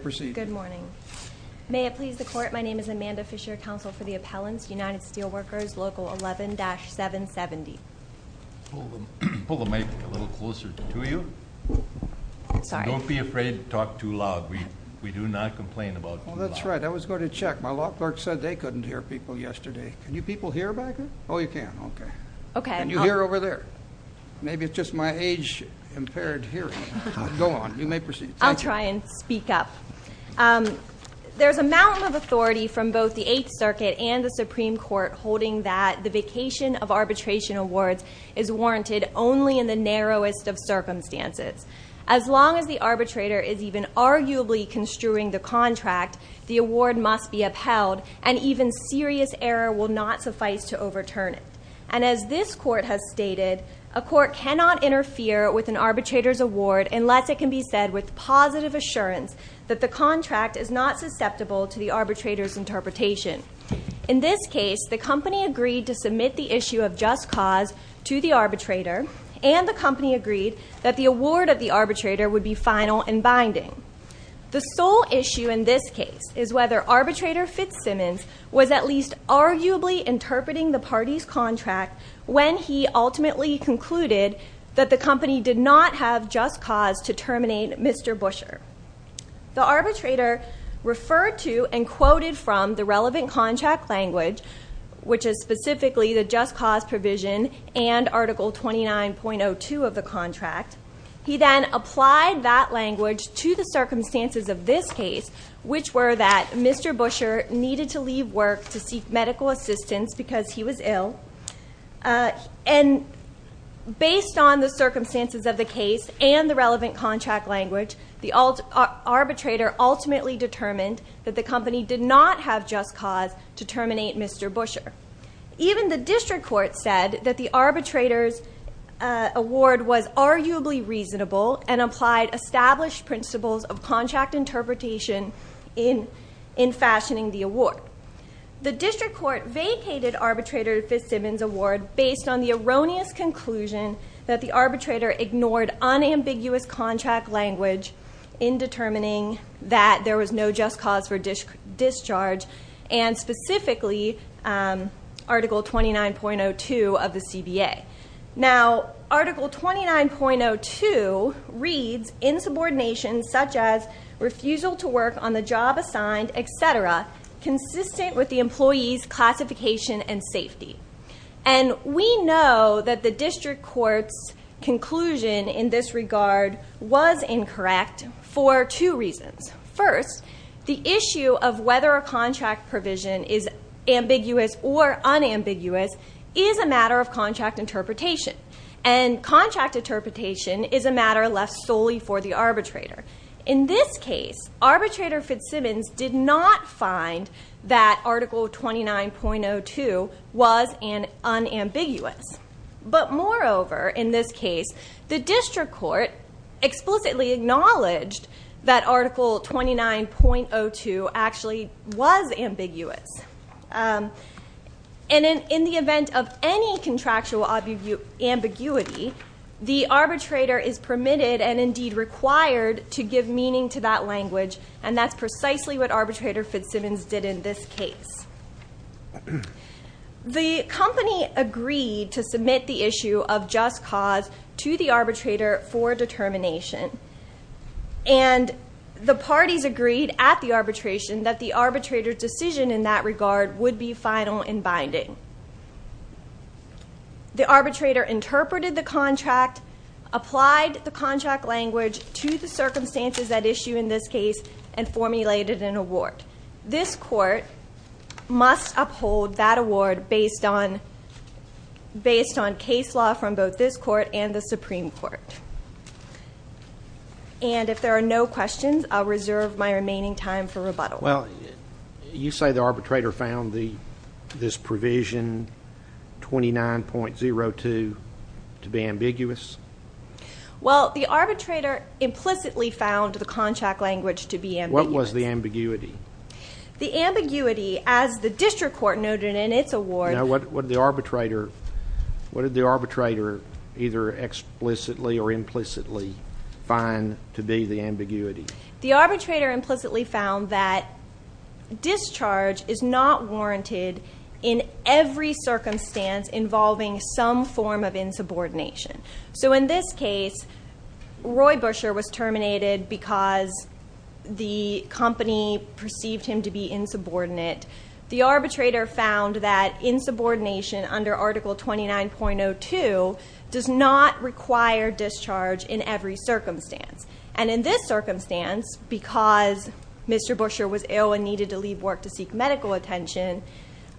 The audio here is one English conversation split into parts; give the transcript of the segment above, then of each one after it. May it please the Court, my name is Amanda Fisher, Counsel for the Appellants, United Steel Workers, Local 11-770. Pull the mic a little closer to you. Sorry. Don't be afraid to talk too loud. We do not complain about too loud. Well, that's right. I was going to check. My law clerk said they couldn't hear people yesterday. Can you people hear back there? Oh, you can. Okay. Okay. Can you hear over there? Maybe it's just my age-impaired hearing. Go on. You may proceed. I'll try and speak up. There's a mountain of authority from both the Eighth Circuit and the Supreme Court holding that the vacation of arbitration awards is warranted only in the narrowest of circumstances. As long as the arbitrator is even arguably construing the contract, the award must be upheld, and even serious error will not suffice to overturn it. And as this Court has stated, a court cannot interfere with an arbitrator's award unless it can be said with positive assurance that the contract is not susceptible to the arbitrator's interpretation. In this case, the company agreed to submit the issue of just cause to the arbitrator, and the company agreed that the award of the arbitrator would be final and binding. The sole issue in this case is whether arbitrator Fitzsimmons was at least arguably interpreting the party's contract when he ultimately concluded that the company did not have just cause to terminate Mr. Busher. The arbitrator referred to and quoted from the relevant contract language, which is specifically the just cause provision and Article 29.02 of the contract. He then applied that language to the circumstances of this case, which were that Mr. Busher needed to leave work to seek medical assistance because he was ill. And based on the circumstances of the case and the relevant contract language, the arbitrator ultimately determined that the company did not have just cause to terminate Mr. Busher. Even the district court said that the arbitrator's award was arguably reasonable and applied established principles of contract interpretation in fashioning the award. The district court vacated arbitrator Fitzsimmons' award based on the erroneous conclusion that the arbitrator ignored unambiguous contract language in determining that there was no just cause for discharge, and specifically Article 29.02 of the CBA. Now, Article 29.02 reads insubordination, such as refusal to work on the job assigned, etc., consistent with the employee's classification and safety. And we know that the district court's conclusion in this regard was incorrect for two reasons. First, the issue of whether a contract provision is ambiguous or unambiguous is a matter of contract interpretation. And contract interpretation is a matter left solely for the arbitrator. In this case, arbitrator Fitzsimmons did not find that Article 29.02 was unambiguous. But moreover, in this case, the district court explicitly acknowledged that Article 29.02 actually was ambiguous. And in the event of any contractual ambiguity, the arbitrator is permitted and indeed required to give meaning to that language, and that's precisely what arbitrator Fitzsimmons did in this case. The company agreed to submit the issue of just cause to the arbitrator for determination. And the parties agreed at the arbitration that the arbitrator's decision in that regard would be final and binding. The arbitrator interpreted the contract, applied the contract language to the circumstances at issue in this case, and formulated an award. This court must uphold that award based on case law from both this court and the Supreme Court. And if there are no questions, I'll reserve my remaining time for rebuttal. Well, you say the arbitrator found this provision, 29.02, to be ambiguous? Well, the arbitrator implicitly found the contract language to be ambiguous. What was the ambiguity? The ambiguity, as the district court noted in its award. Now, what did the arbitrator either explicitly or implicitly find to be the ambiguity? The arbitrator implicitly found that discharge is not warranted in every circumstance involving some form of insubordination. So in this case, Roy Busher was terminated because the company perceived him to be insubordinate. The arbitrator found that insubordination under Article 29.02 does not require discharge in every circumstance. And in this circumstance, because Mr. Busher was ill and needed to leave work to seek medical attention,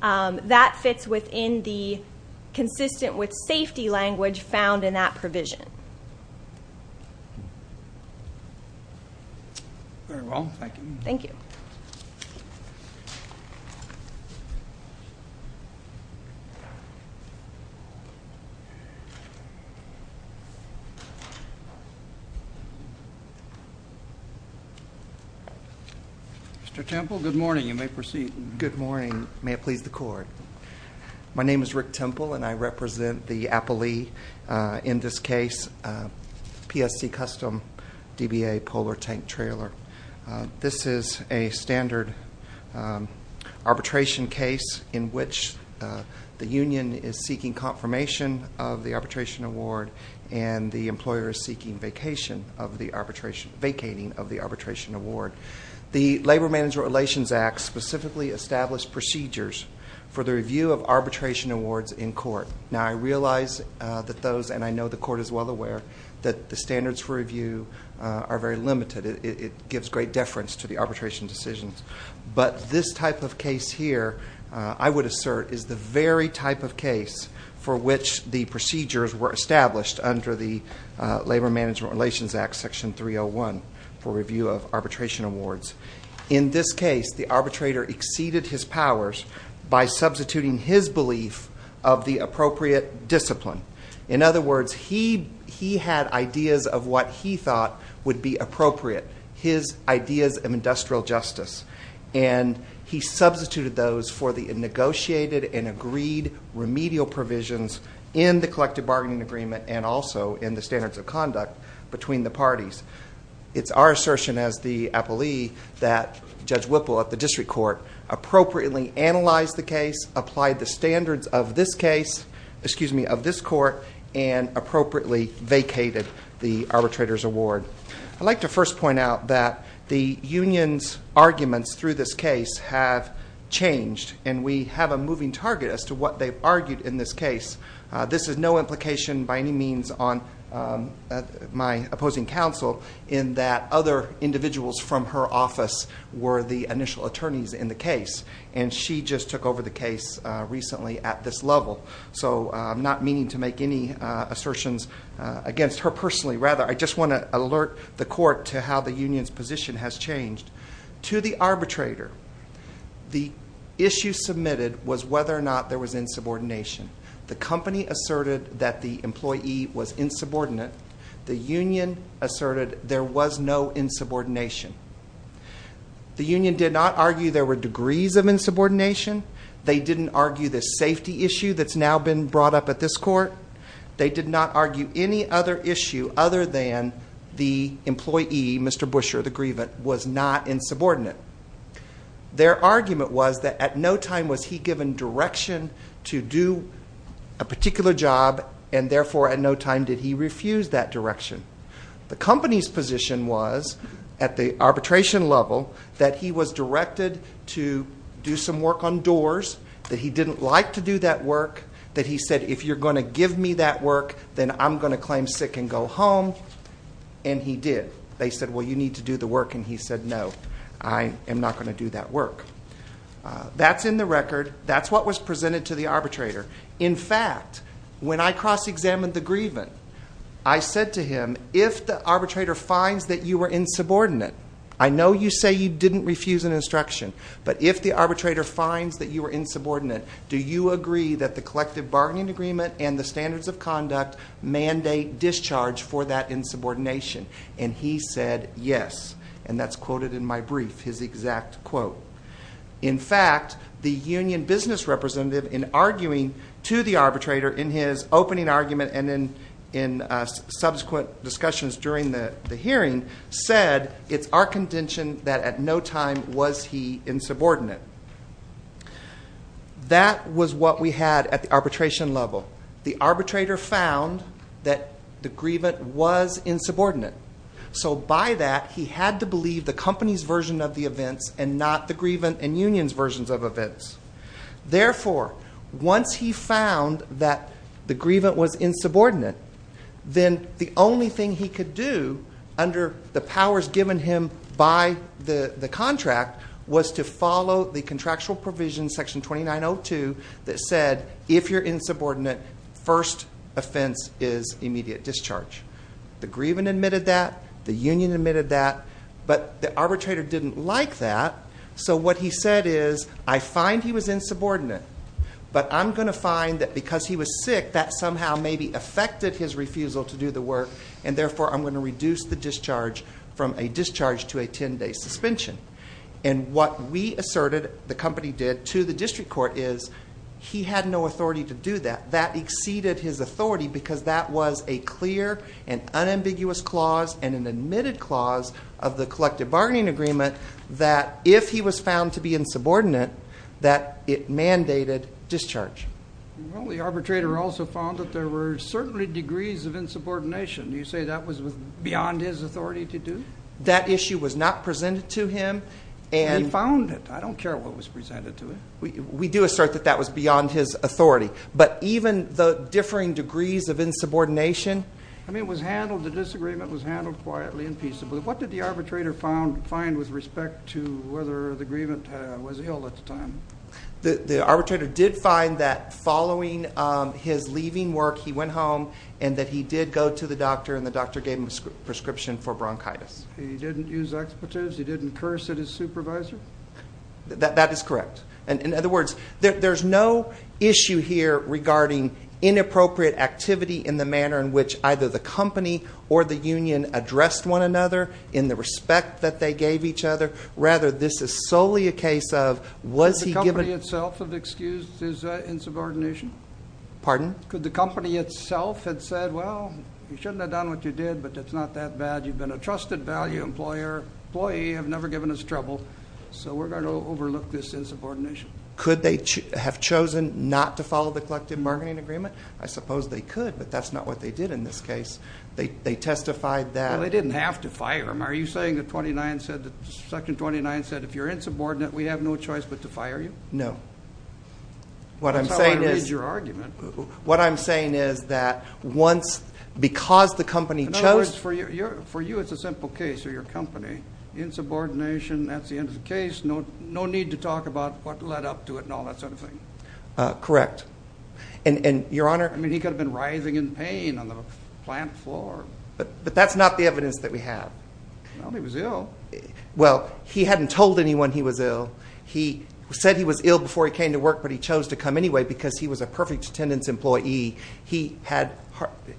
that fits within the consistent with safety language found in that provision. Very well. Thank you. Thank you. Mr. Temple, good morning. You may proceed. Good morning. May it please the court. My name is Rick Temple, and I represent the appellee in this case, PSC Custom DBA Polar Tank Trailer. This is a standard arbitration case in which the union is seeking confirmation of the arbitration award and the employer is seeking vacating of the arbitration award. The Labor Management Relations Act specifically established procedures for the review of arbitration awards in court. Now, I realize that those, and I know the court is well aware, that the standards for review are very limited. It gives great deference to the arbitration decisions. But this type of case here, I would assert, is the very type of case for which the procedures were established under the Labor Management Relations Act Section 301 for review of arbitration awards. In this case, the arbitrator exceeded his powers by substituting his belief of the appropriate discipline. In other words, he had ideas of what he thought would be appropriate, his ideas of industrial justice, and he substituted those for the negotiated and agreed remedial provisions in the collective bargaining agreement and also in the standards of conduct between the parties. It's our assertion as the appellee that Judge Whipple at the district court appropriately analyzed the case, applied the standards of this case, excuse me, of this court, and appropriately vacated the arbitrator's award. I'd like to first point out that the union's arguments through this case have changed, and we have a moving target as to what they've argued in this case. This has no implication by any means on my opposing counsel in that other individuals from her office were the initial attorneys in the case, and she just took over the case recently at this level. So I'm not meaning to make any assertions against her personally. Rather, I just want to alert the court to how the union's position has changed. To the arbitrator, the issue submitted was whether or not there was insubordination. The company asserted that the employee was insubordinate. The union asserted there was no insubordination. The union did not argue there were degrees of insubordination. They didn't argue the safety issue that's now been brought up at this court. They did not argue any other issue other than the employee, Mr. Busher, the grievant, was not insubordinate. Their argument was that at no time was he given direction to do a particular job, and therefore at no time did he refuse that direction. The company's position was at the arbitration level that he was directed to do some work on doors, that he didn't like to do that work, that he said, if you're going to give me that work, then I'm going to claim sick and go home, and he did. They said, well, you need to do the work, and he said, no, I am not going to do that work. That's in the record. That's what was presented to the arbitrator. In fact, when I cross-examined the grievant, I said to him, if the arbitrator finds that you were insubordinate, I know you say you didn't refuse an instruction, but if the arbitrator finds that you were insubordinate, do you agree that the collective bargaining agreement and the standards of conduct mandate discharge for that insubordination? And he said yes, and that's quoted in my brief, his exact quote. In fact, the union business representative, in arguing to the arbitrator in his opening argument and in subsequent discussions during the hearing, said, it's our contention that at no time was he insubordinate. That was what we had at the arbitration level. The arbitrator found that the grievant was insubordinate. So by that, he had to believe the company's version of the events and not the grievant and union's versions of events. Therefore, once he found that the grievant was insubordinate, then the only thing he could do under the powers given him by the contract was to follow the contractual provision section 2902 that said, if you're insubordinate, first offense is immediate discharge. The grievant admitted that, the union admitted that, but the arbitrator didn't like that. So what he said is, I find he was insubordinate, but I'm going to find that because he was sick, that somehow maybe affected his refusal to do the work, and therefore I'm going to reduce the discharge from a discharge to a ten-day suspension. And what we asserted the company did to the district court is he had no authority to do that. That exceeded his authority because that was a clear and unambiguous clause and an admitted clause of the collective bargaining agreement that if he was found to be insubordinate, that it mandated discharge. Well, the arbitrator also found that there were certainly degrees of insubordination. Do you say that was beyond his authority to do? That issue was not presented to him. He found it. I don't care what was presented to him. We do assert that that was beyond his authority. But even the differing degrees of insubordination. I mean, it was handled, the disagreement was handled quietly and peaceably. What did the arbitrator find with respect to whether the grievant was ill at the time? The arbitrator did find that following his leaving work, he went home, and that he did go to the doctor, and the doctor gave him a prescription for bronchitis. He didn't use expletives? He didn't curse at his supervisor? That is correct. In other words, there's no issue here regarding inappropriate activity in the manner in which either the company or the union addressed one another in the respect that they gave each other. Rather, this is solely a case of was he given an excused his insubordination? Pardon? Could the company itself have said, well, you shouldn't have done what you did, but it's not that bad. You've been a trusted value employee. You have never given us trouble. So we're going to overlook this insubordination. Could they have chosen not to follow the collective bargaining agreement? I suppose they could, but that's not what they did in this case. They testified that. Well, they didn't have to fire him. Are you saying that Section 29 said if you're insubordinate, we have no choice but to fire you? No. That's how I read your argument. What I'm saying is that once, because the company chose In other words, for you it's a simple case, or your company. Insubordination, that's the end of the case. No need to talk about what led up to it and all that sort of thing. Correct. And, Your Honor I mean, he could have been writhing in pain on the plant floor. But that's not the evidence that we have. Well, he was ill. Well, he hadn't told anyone he was ill. He said he was ill before he came to work, but he chose to come anyway because he was a perfect attendance employee. He had,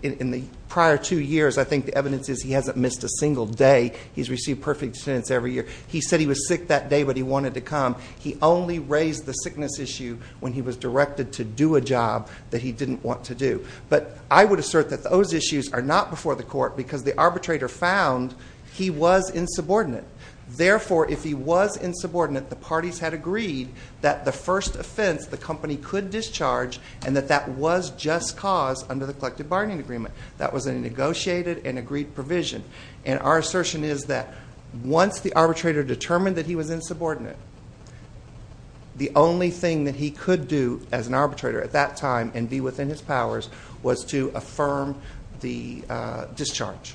in the prior two years, I think the evidence is he hasn't missed a single day. He's received perfect attendance every year. He said he was sick that day, but he wanted to come. He only raised the sickness issue when he was directed to do a job that he didn't want to do. But I would assert that those issues are not before the court because the arbitrator found he was insubordinate. Therefore, if he was insubordinate, the parties had agreed that the first offense the company could discharge and that that was just cause under the collective bargaining agreement. That was a negotiated and agreed provision. And our assertion is that once the arbitrator determined that he was insubordinate, the only thing that he could do as an arbitrator at that time and be within his powers was to affirm the discharge.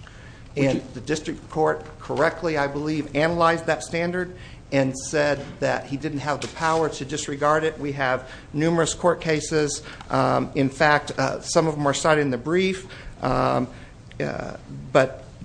And the district court correctly, I believe, analyzed that standard and said that he didn't have the power to disregard it. We have numerous court cases. In fact, some of them are cited in the brief. But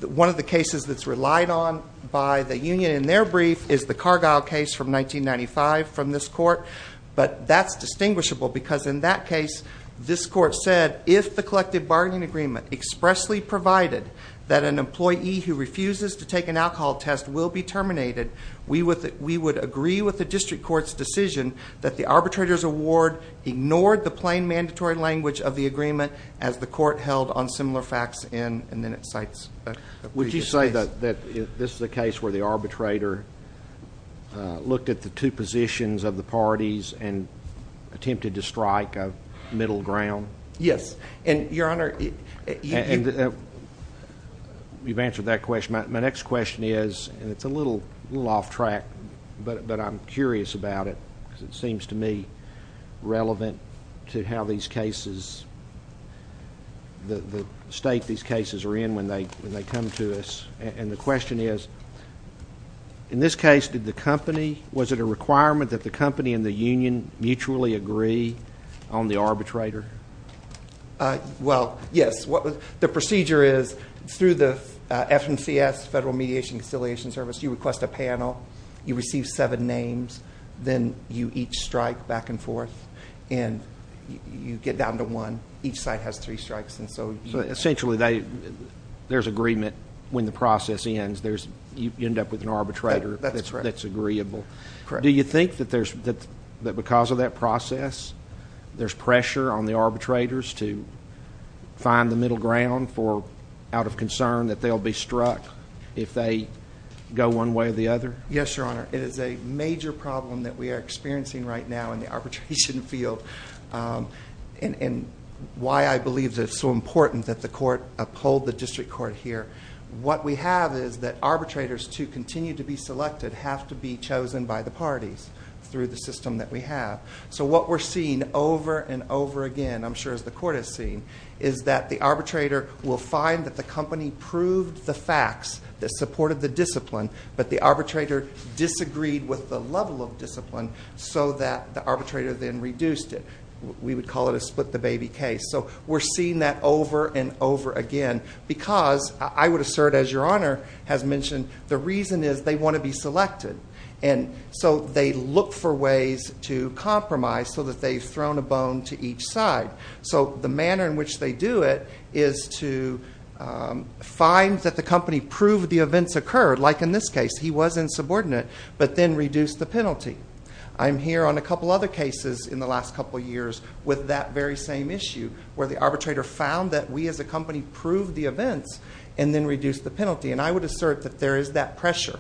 one of the cases that's relied on by the union in their brief is the Cargill case from 1995 from this court. But that's distinguishable because in that case, this court said, if the collective bargaining agreement expressly provided that an employee who refuses to take an alcohol test will be terminated, we would agree with the district court's decision that the arbitrator's award ignored the plain mandatory language of the agreement as the court held on similar facts in and then at sites. Would you say that this is a case where the arbitrator looked at the two positions of the parties and attempted to strike a middle ground? Yes. And, Your Honor, you've answered that question. My next question is, and it's a little off track, but I'm curious about it because it seems to me relevant to how these cases, the state these cases are in when they come to us. And the question is, in this case, did the company, was it a requirement that the company and the union mutually agree on the arbitrator? Well, yes. The procedure is through the FMCS, Federal Mediation and Conciliation Service, you request a panel. You receive seven names. Then you each strike back and forth and you get down to one. Each side has three strikes. And so, essentially, there's agreement when the process ends. You end up with an arbitrator that's agreeable. Correct. Do you think that because of that process, there's pressure on the arbitrators to find the middle ground out of concern that they'll be struck if they go one way or the other? Yes, Your Honor. It is a major problem that we are experiencing right now in the arbitration field and why I believe that it's so important that the court uphold the district court here. What we have is that arbitrators to continue to be selected have to be chosen by the parties through the system that we have. So what we're seeing over and over again, I'm sure as the court has seen, is that the arbitrator will find that the company proved the facts that supported the discipline, but the arbitrator disagreed with the level of discipline so that the arbitrator then reduced it. We would call it a split the baby case. So we're seeing that over and over again because I would assert, as Your Honor has mentioned, the reason is they want to be selected. And so they look for ways to compromise so that they've thrown a bone to each side. So the manner in which they do it is to find that the company proved the events occurred. Like in this case, he was insubordinate but then reduced the penalty. I'm here on a couple other cases in the last couple years with that very same issue where the arbitrator found that we as a company proved the events and then reduced the penalty. And I would assert that there is that pressure.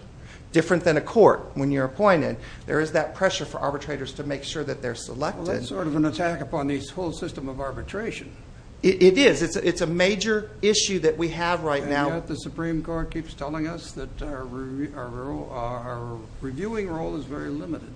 Different than a court when you're appointed, there is that pressure for arbitrators to make sure that they're selected. Well, that's sort of an attack upon this whole system of arbitration. It is. It's a major issue that we have right now. And yet the Supreme Court keeps telling us that our reviewing role is very limited.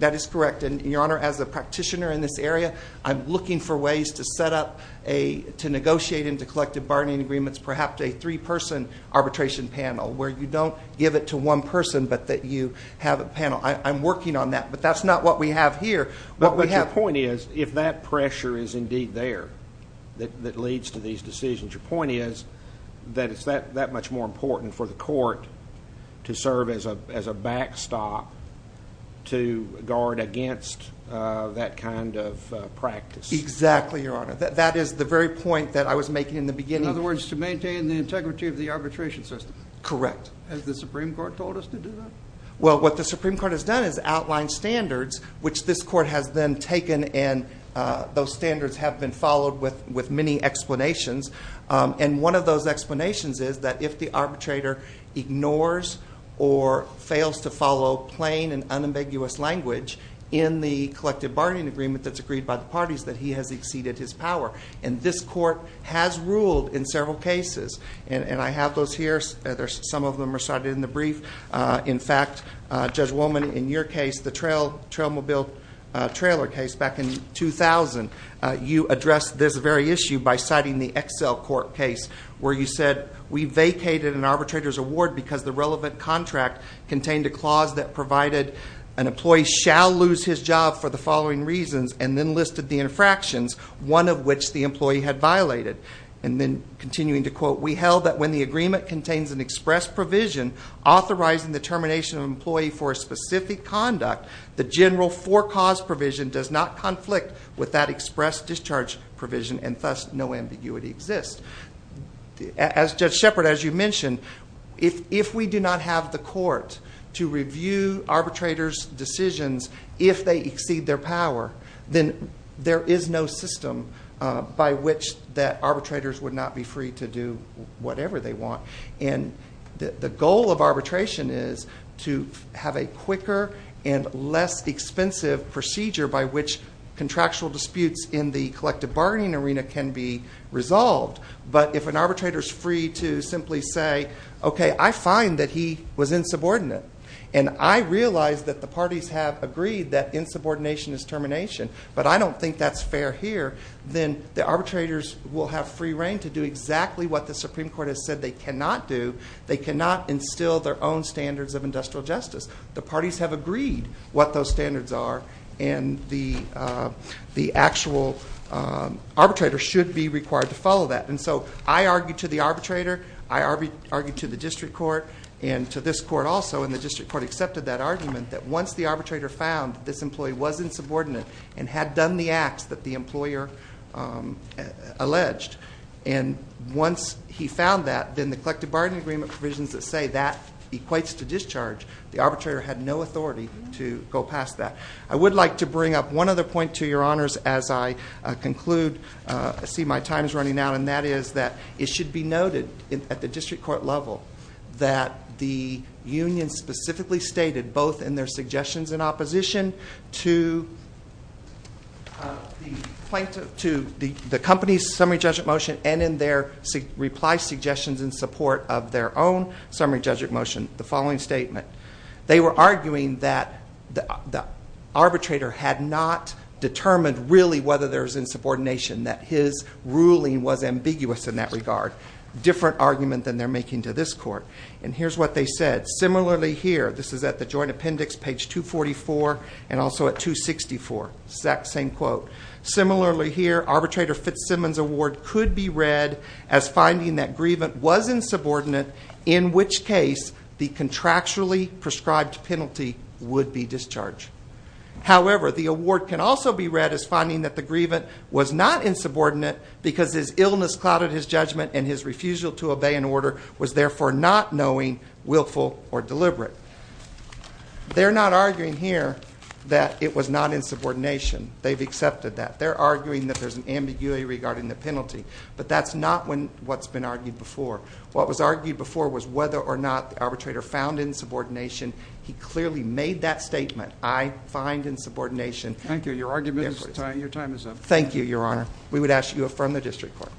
That is correct. And, Your Honor, as a practitioner in this area, I'm looking for ways to set up a – to negotiate into collective bargaining agreements perhaps a three-person arbitration panel where you don't give it to one person but that you have a panel. I'm working on that, but that's not what we have here. But your point is if that pressure is indeed there that leads to these decisions, your point is that it's that much more important for the court to serve as a backstop to guard against that kind of practice. Exactly, Your Honor. That is the very point that I was making in the beginning. In other words, to maintain the integrity of the arbitration system. Correct. Has the Supreme Court told us to do that? Well, what the Supreme Court has done is outlined standards, which this court has then taken and those standards have been followed with many explanations. And one of those explanations is that if the arbitrator ignores or fails to follow plain and unambiguous language in the collective bargaining agreement that's agreed by the parties, that he has exceeded his power. And this court has ruled in several cases. And I have those here. Some of them are cited in the brief. In fact, Judge Woolman, in your case, the Trailmobile Trailer case back in 2000, you addressed this very issue by citing the Excel Court case where you said, we vacated an arbitrator's award because the relevant contract contained a clause that provided an employee shall lose his job for the following reasons and then listed the infractions, one of which the employee had violated. And then continuing to quote, we held that when the agreement contains an express provision authorizing the termination of an employee for a specific conduct, the general for cause provision does not conflict with that express discharge provision and thus no ambiguity exists. As Judge Shepard, as you mentioned, if we do not have the court to review arbitrators' decisions if they exceed their power, then there is no system by which that arbitrators would not be free to do whatever they want. And the goal of arbitration is to have a quicker and less expensive procedure by which contractual disputes in the collective bargaining arena can be resolved. But if an arbitrator is free to simply say, okay, I find that he was insubordinate and I realize that the parties have agreed that insubordination is termination, but I don't think that's fair here, then the arbitrators will have free reign to do exactly what the Supreme Court has said they cannot do. They cannot instill their own standards of industrial justice. The parties have agreed what those standards are and the actual arbitrator should be required to follow that. And so I argue to the arbitrator, I argue to the district court, and to this court also, and the district court accepted that argument that once the arbitrator found this employee was insubordinate and had done the acts that the employer alleged, and once he found that then the collective bargaining agreement provisions that say that equates to discharge, the arbitrator had no authority to go past that. I would like to bring up one other point to your honors as I conclude. I see my time is running out, and that is that it should be noted at the district court level that the union specifically stated both in their suggestions in opposition to the company's summary judgment motion and in their reply suggestions in support of their own summary judgment motion the following statement. They were arguing that the arbitrator had not determined really whether there was insubordination, that his ruling was ambiguous in that regard. Different argument than they're making to this court. And here's what they said. Similarly here, this is at the joint appendix, page 244, and also at 264, same quote. Similarly here, arbitrator Fitzsimmons' award could be read as finding that Grievant was insubordinate, in which case the contractually prescribed penalty would be discharged. However, the award can also be read as finding that the Grievant was not insubordinate because his illness clouded his judgment and his refusal to obey an order was therefore not knowing, willful, or deliberate. They're not arguing here that it was not insubordination. They've accepted that. They're arguing that there's an ambiguity regarding the penalty, but that's not what's been argued before. What was argued before was whether or not the arbitrator found insubordination. He clearly made that statement, I find insubordination. Thank you. Your time is up. Thank you, Your Honor. We would ask that you affirm the district court.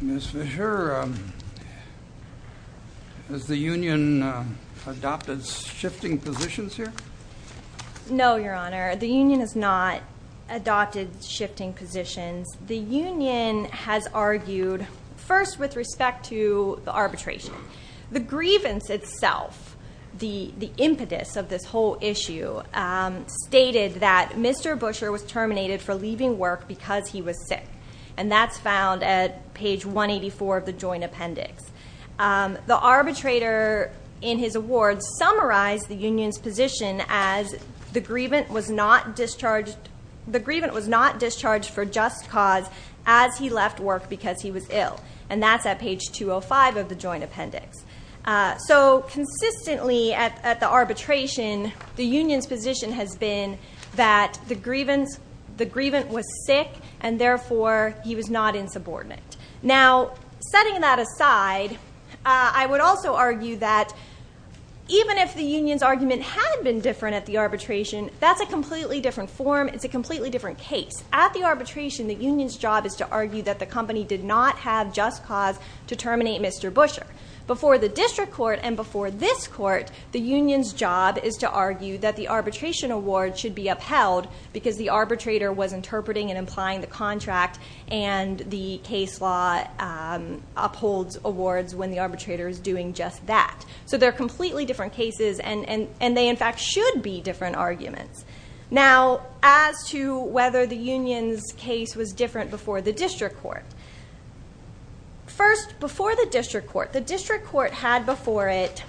Ms. Fisher, has the union adopted shifting positions here? No, Your Honor. The union has not adopted shifting positions. The union has argued first with respect to the arbitration. The Grievance itself, the impetus of this whole issue, stated that Mr. Busher was terminated for leaving work because he was sick, and that's found at page 184 of the joint appendix. The arbitrator in his award summarized the union's position as the grievant was not discharged for just cause as he left work because he was ill, and that's at page 205 of the joint appendix. So consistently at the arbitration, the union's position has been that the grievant was sick, and therefore he was not insubordinate. Now, setting that aside, I would also argue that even if the union's argument had been different at the arbitration, that's a completely different form. It's a completely different case. At the arbitration, the union's job is to argue that the company did not have just cause to terminate Mr. Busher. Before the district court and before this court, the union's job is to argue that the arbitration award should be upheld because the arbitrator was interpreting and applying the contract, and the case law upholds awards when the arbitrator is doing just that. So they're completely different cases, and they, in fact, should be different arguments. Now, as to whether the union's case was different before the district court. First, before the district court. The district court had before it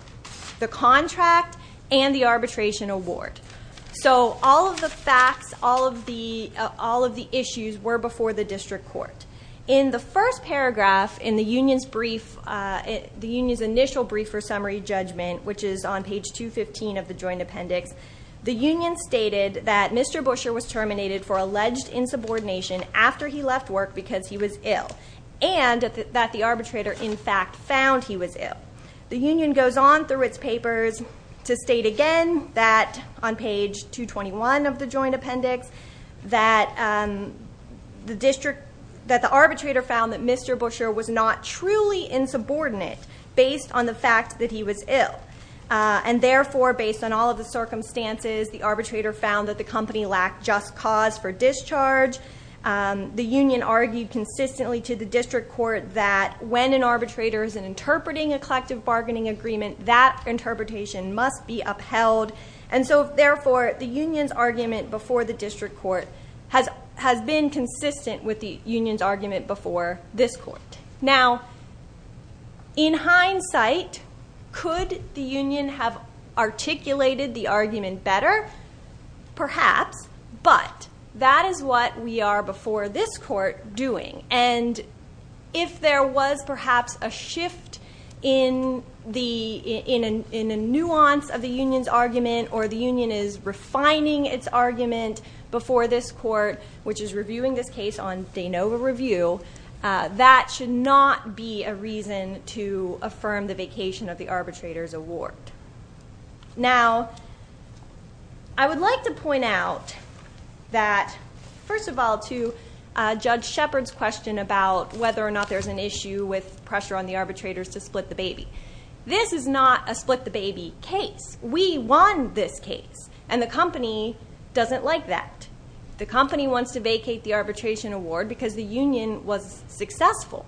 the contract and the arbitration award. So all of the facts, all of the issues were before the district court. In the first paragraph in the union's brief, the union's initial brief for summary judgment, which is on page 215 of the joint appendix, the union stated that Mr. Busher was terminated for alleged insubordination after he left work because he was ill. And that the arbitrator, in fact, found he was ill. The union goes on through its papers to state again that, on page 221 of the joint appendix, that the district, that the arbitrator found that Mr. Busher was not truly insubordinate based on the fact that he was ill. And therefore, based on all of the circumstances, the arbitrator found that the company lacked just cause for discharge. The union argued consistently to the district court that when an arbitrator is interpreting a collective bargaining agreement, that interpretation must be upheld. And so, therefore, the union's argument before the district court has been consistent with the union's argument before this court. Now, in hindsight, could the union have articulated the argument better? Perhaps, but that is what we are before this court doing. And if there was, perhaps, a shift in the nuance of the union's argument or the union is refining its argument before this court, which is reviewing this case on de novo review, that should not be a reason to affirm the vacation of the arbitrator's award. Now, I would like to point out that, first of all, to Judge Shepard's question about whether or not there's an issue with pressure on the arbitrators to split the baby. This is not a split the baby case. We won this case, and the company doesn't like that. The company wants to vacate the arbitration award because the union was successful.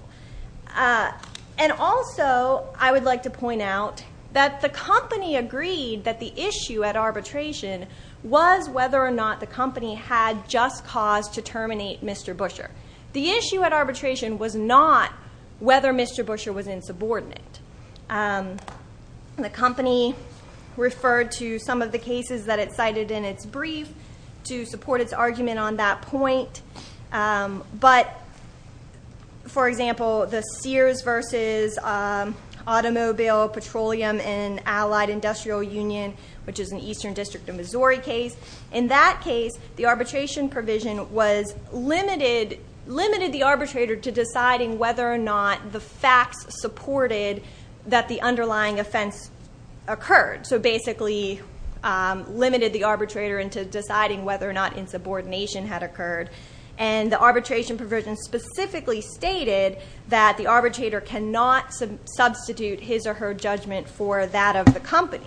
And also, I would like to point out that the company agreed that the issue at arbitration was whether or not the company had just cause to terminate Mr. Buescher. The issue at arbitration was not whether Mr. Buescher was insubordinate. The company referred to some of the cases that it cited in its brief to support its argument on that point. But, for example, the Sears v. Automobile Petroleum and Allied Industrial Union, which is an Eastern District of Missouri case. In that case, the arbitration provision was limited the arbitrator to deciding whether or not the facts supported that the underlying offense occurred. So, basically, limited the arbitrator into deciding whether or not insubordination had occurred. And the arbitration provision specifically stated that the arbitrator cannot substitute his or her judgment for that of the company.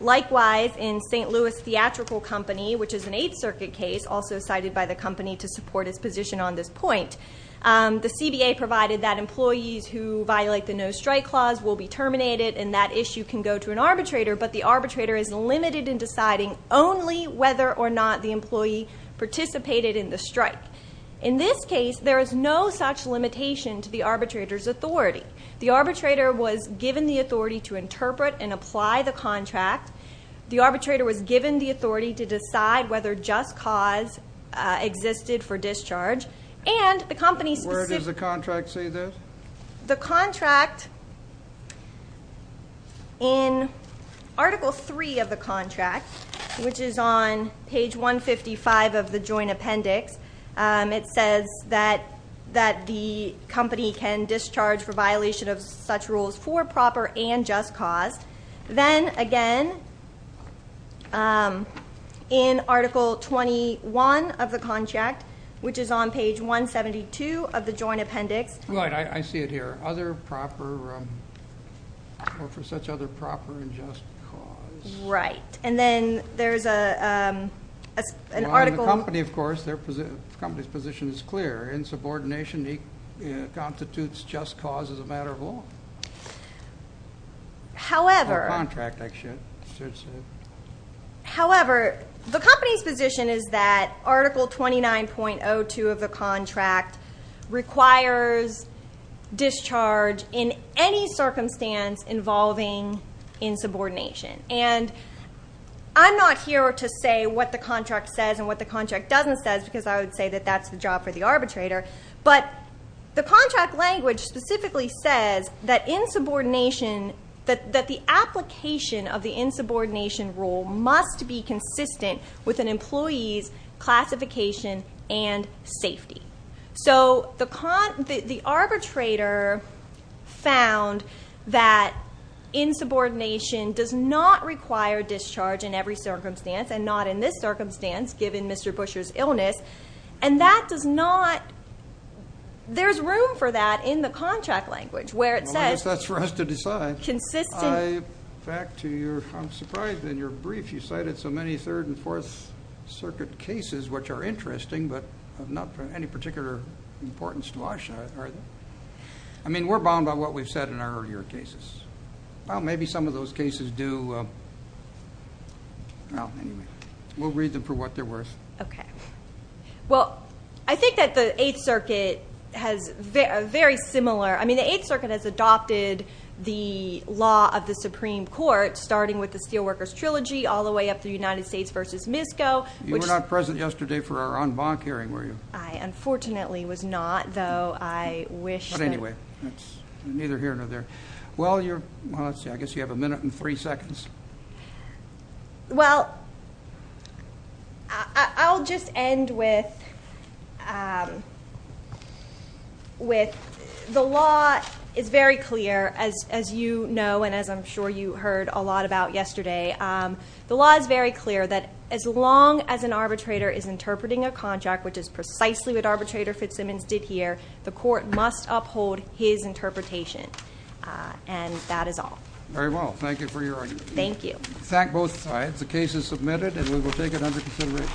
Likewise, in St. Louis Theatrical Company, which is an Eighth Circuit case, also cited by the company to support its position on this point, the CBA provided that employees who violate the no-strike clause will be terminated, and that issue can go to an arbitrator. But the arbitrator is limited in deciding only whether or not the employee participated in the strike. In this case, there is no such limitation to the arbitrator's authority. The arbitrator was given the authority to interpret and apply the contract. The arbitrator was given the authority to decide whether just cause existed for discharge. And the company- Where does the contract say this? The contract, in Article 3 of the contract, which is on page 155 of the joint appendix, it says that the company can discharge for violation of such rules for proper and just cause. Then, again, in Article 21 of the contract, which is on page 172 of the joint appendix- Right. I see it here. Other proper, or for such other proper and just cause. Right. And then there's an article- Well, in the company, of course, the company's position is clear. In subordination, it constitutes just cause as a matter of law. However- Or contract, I should say. However, the company's position is that Article 29.02 of the contract requires discharge in any circumstance involving insubordination. And I'm not here to say what the contract says and what the contract doesn't say, because I would say that that's the job for the arbitrator. But the contract language specifically says that the application of the insubordination rule must be consistent with an employee's classification and safety. So the arbitrator found that insubordination does not require discharge in every circumstance, and not in this circumstance, given Mr. Busher's illness. And that does not- there's room for that in the contract language, where it says- Well, I guess that's for us to decide. Consistent- Back to your- I'm surprised in your brief you cited so many Third and Fourth Circuit cases, which are interesting, but of not any particular importance to us, are they? I mean, we're bound by what we've said in our earlier cases. Well, maybe some of those cases do- well, anyway. We'll read them for what they're worth. Okay. Well, I think that the Eighth Circuit has very similar- I mean, the Eighth Circuit has adopted the law of the Supreme Court, starting with the Steelworkers Trilogy all the way up through United States v. MISCO, which- You were not present yesterday for our en banc hearing, were you? I unfortunately was not, though I wish- But anyway, that's neither here nor there. Well, you're- well, let's see. I guess you have a minute and three seconds. Well, I'll just end with the law is very clear, as you know and as I'm sure you heard a lot about yesterday. The law is very clear that as long as an arbitrator is interpreting a contract, which is precisely what Arbitrator Fitzsimmons did here, the court must uphold his interpretation, and that is all. Very well. Thank you for your argument. Thank you. Thank both sides. The case is submitted, and we will take it under consideration.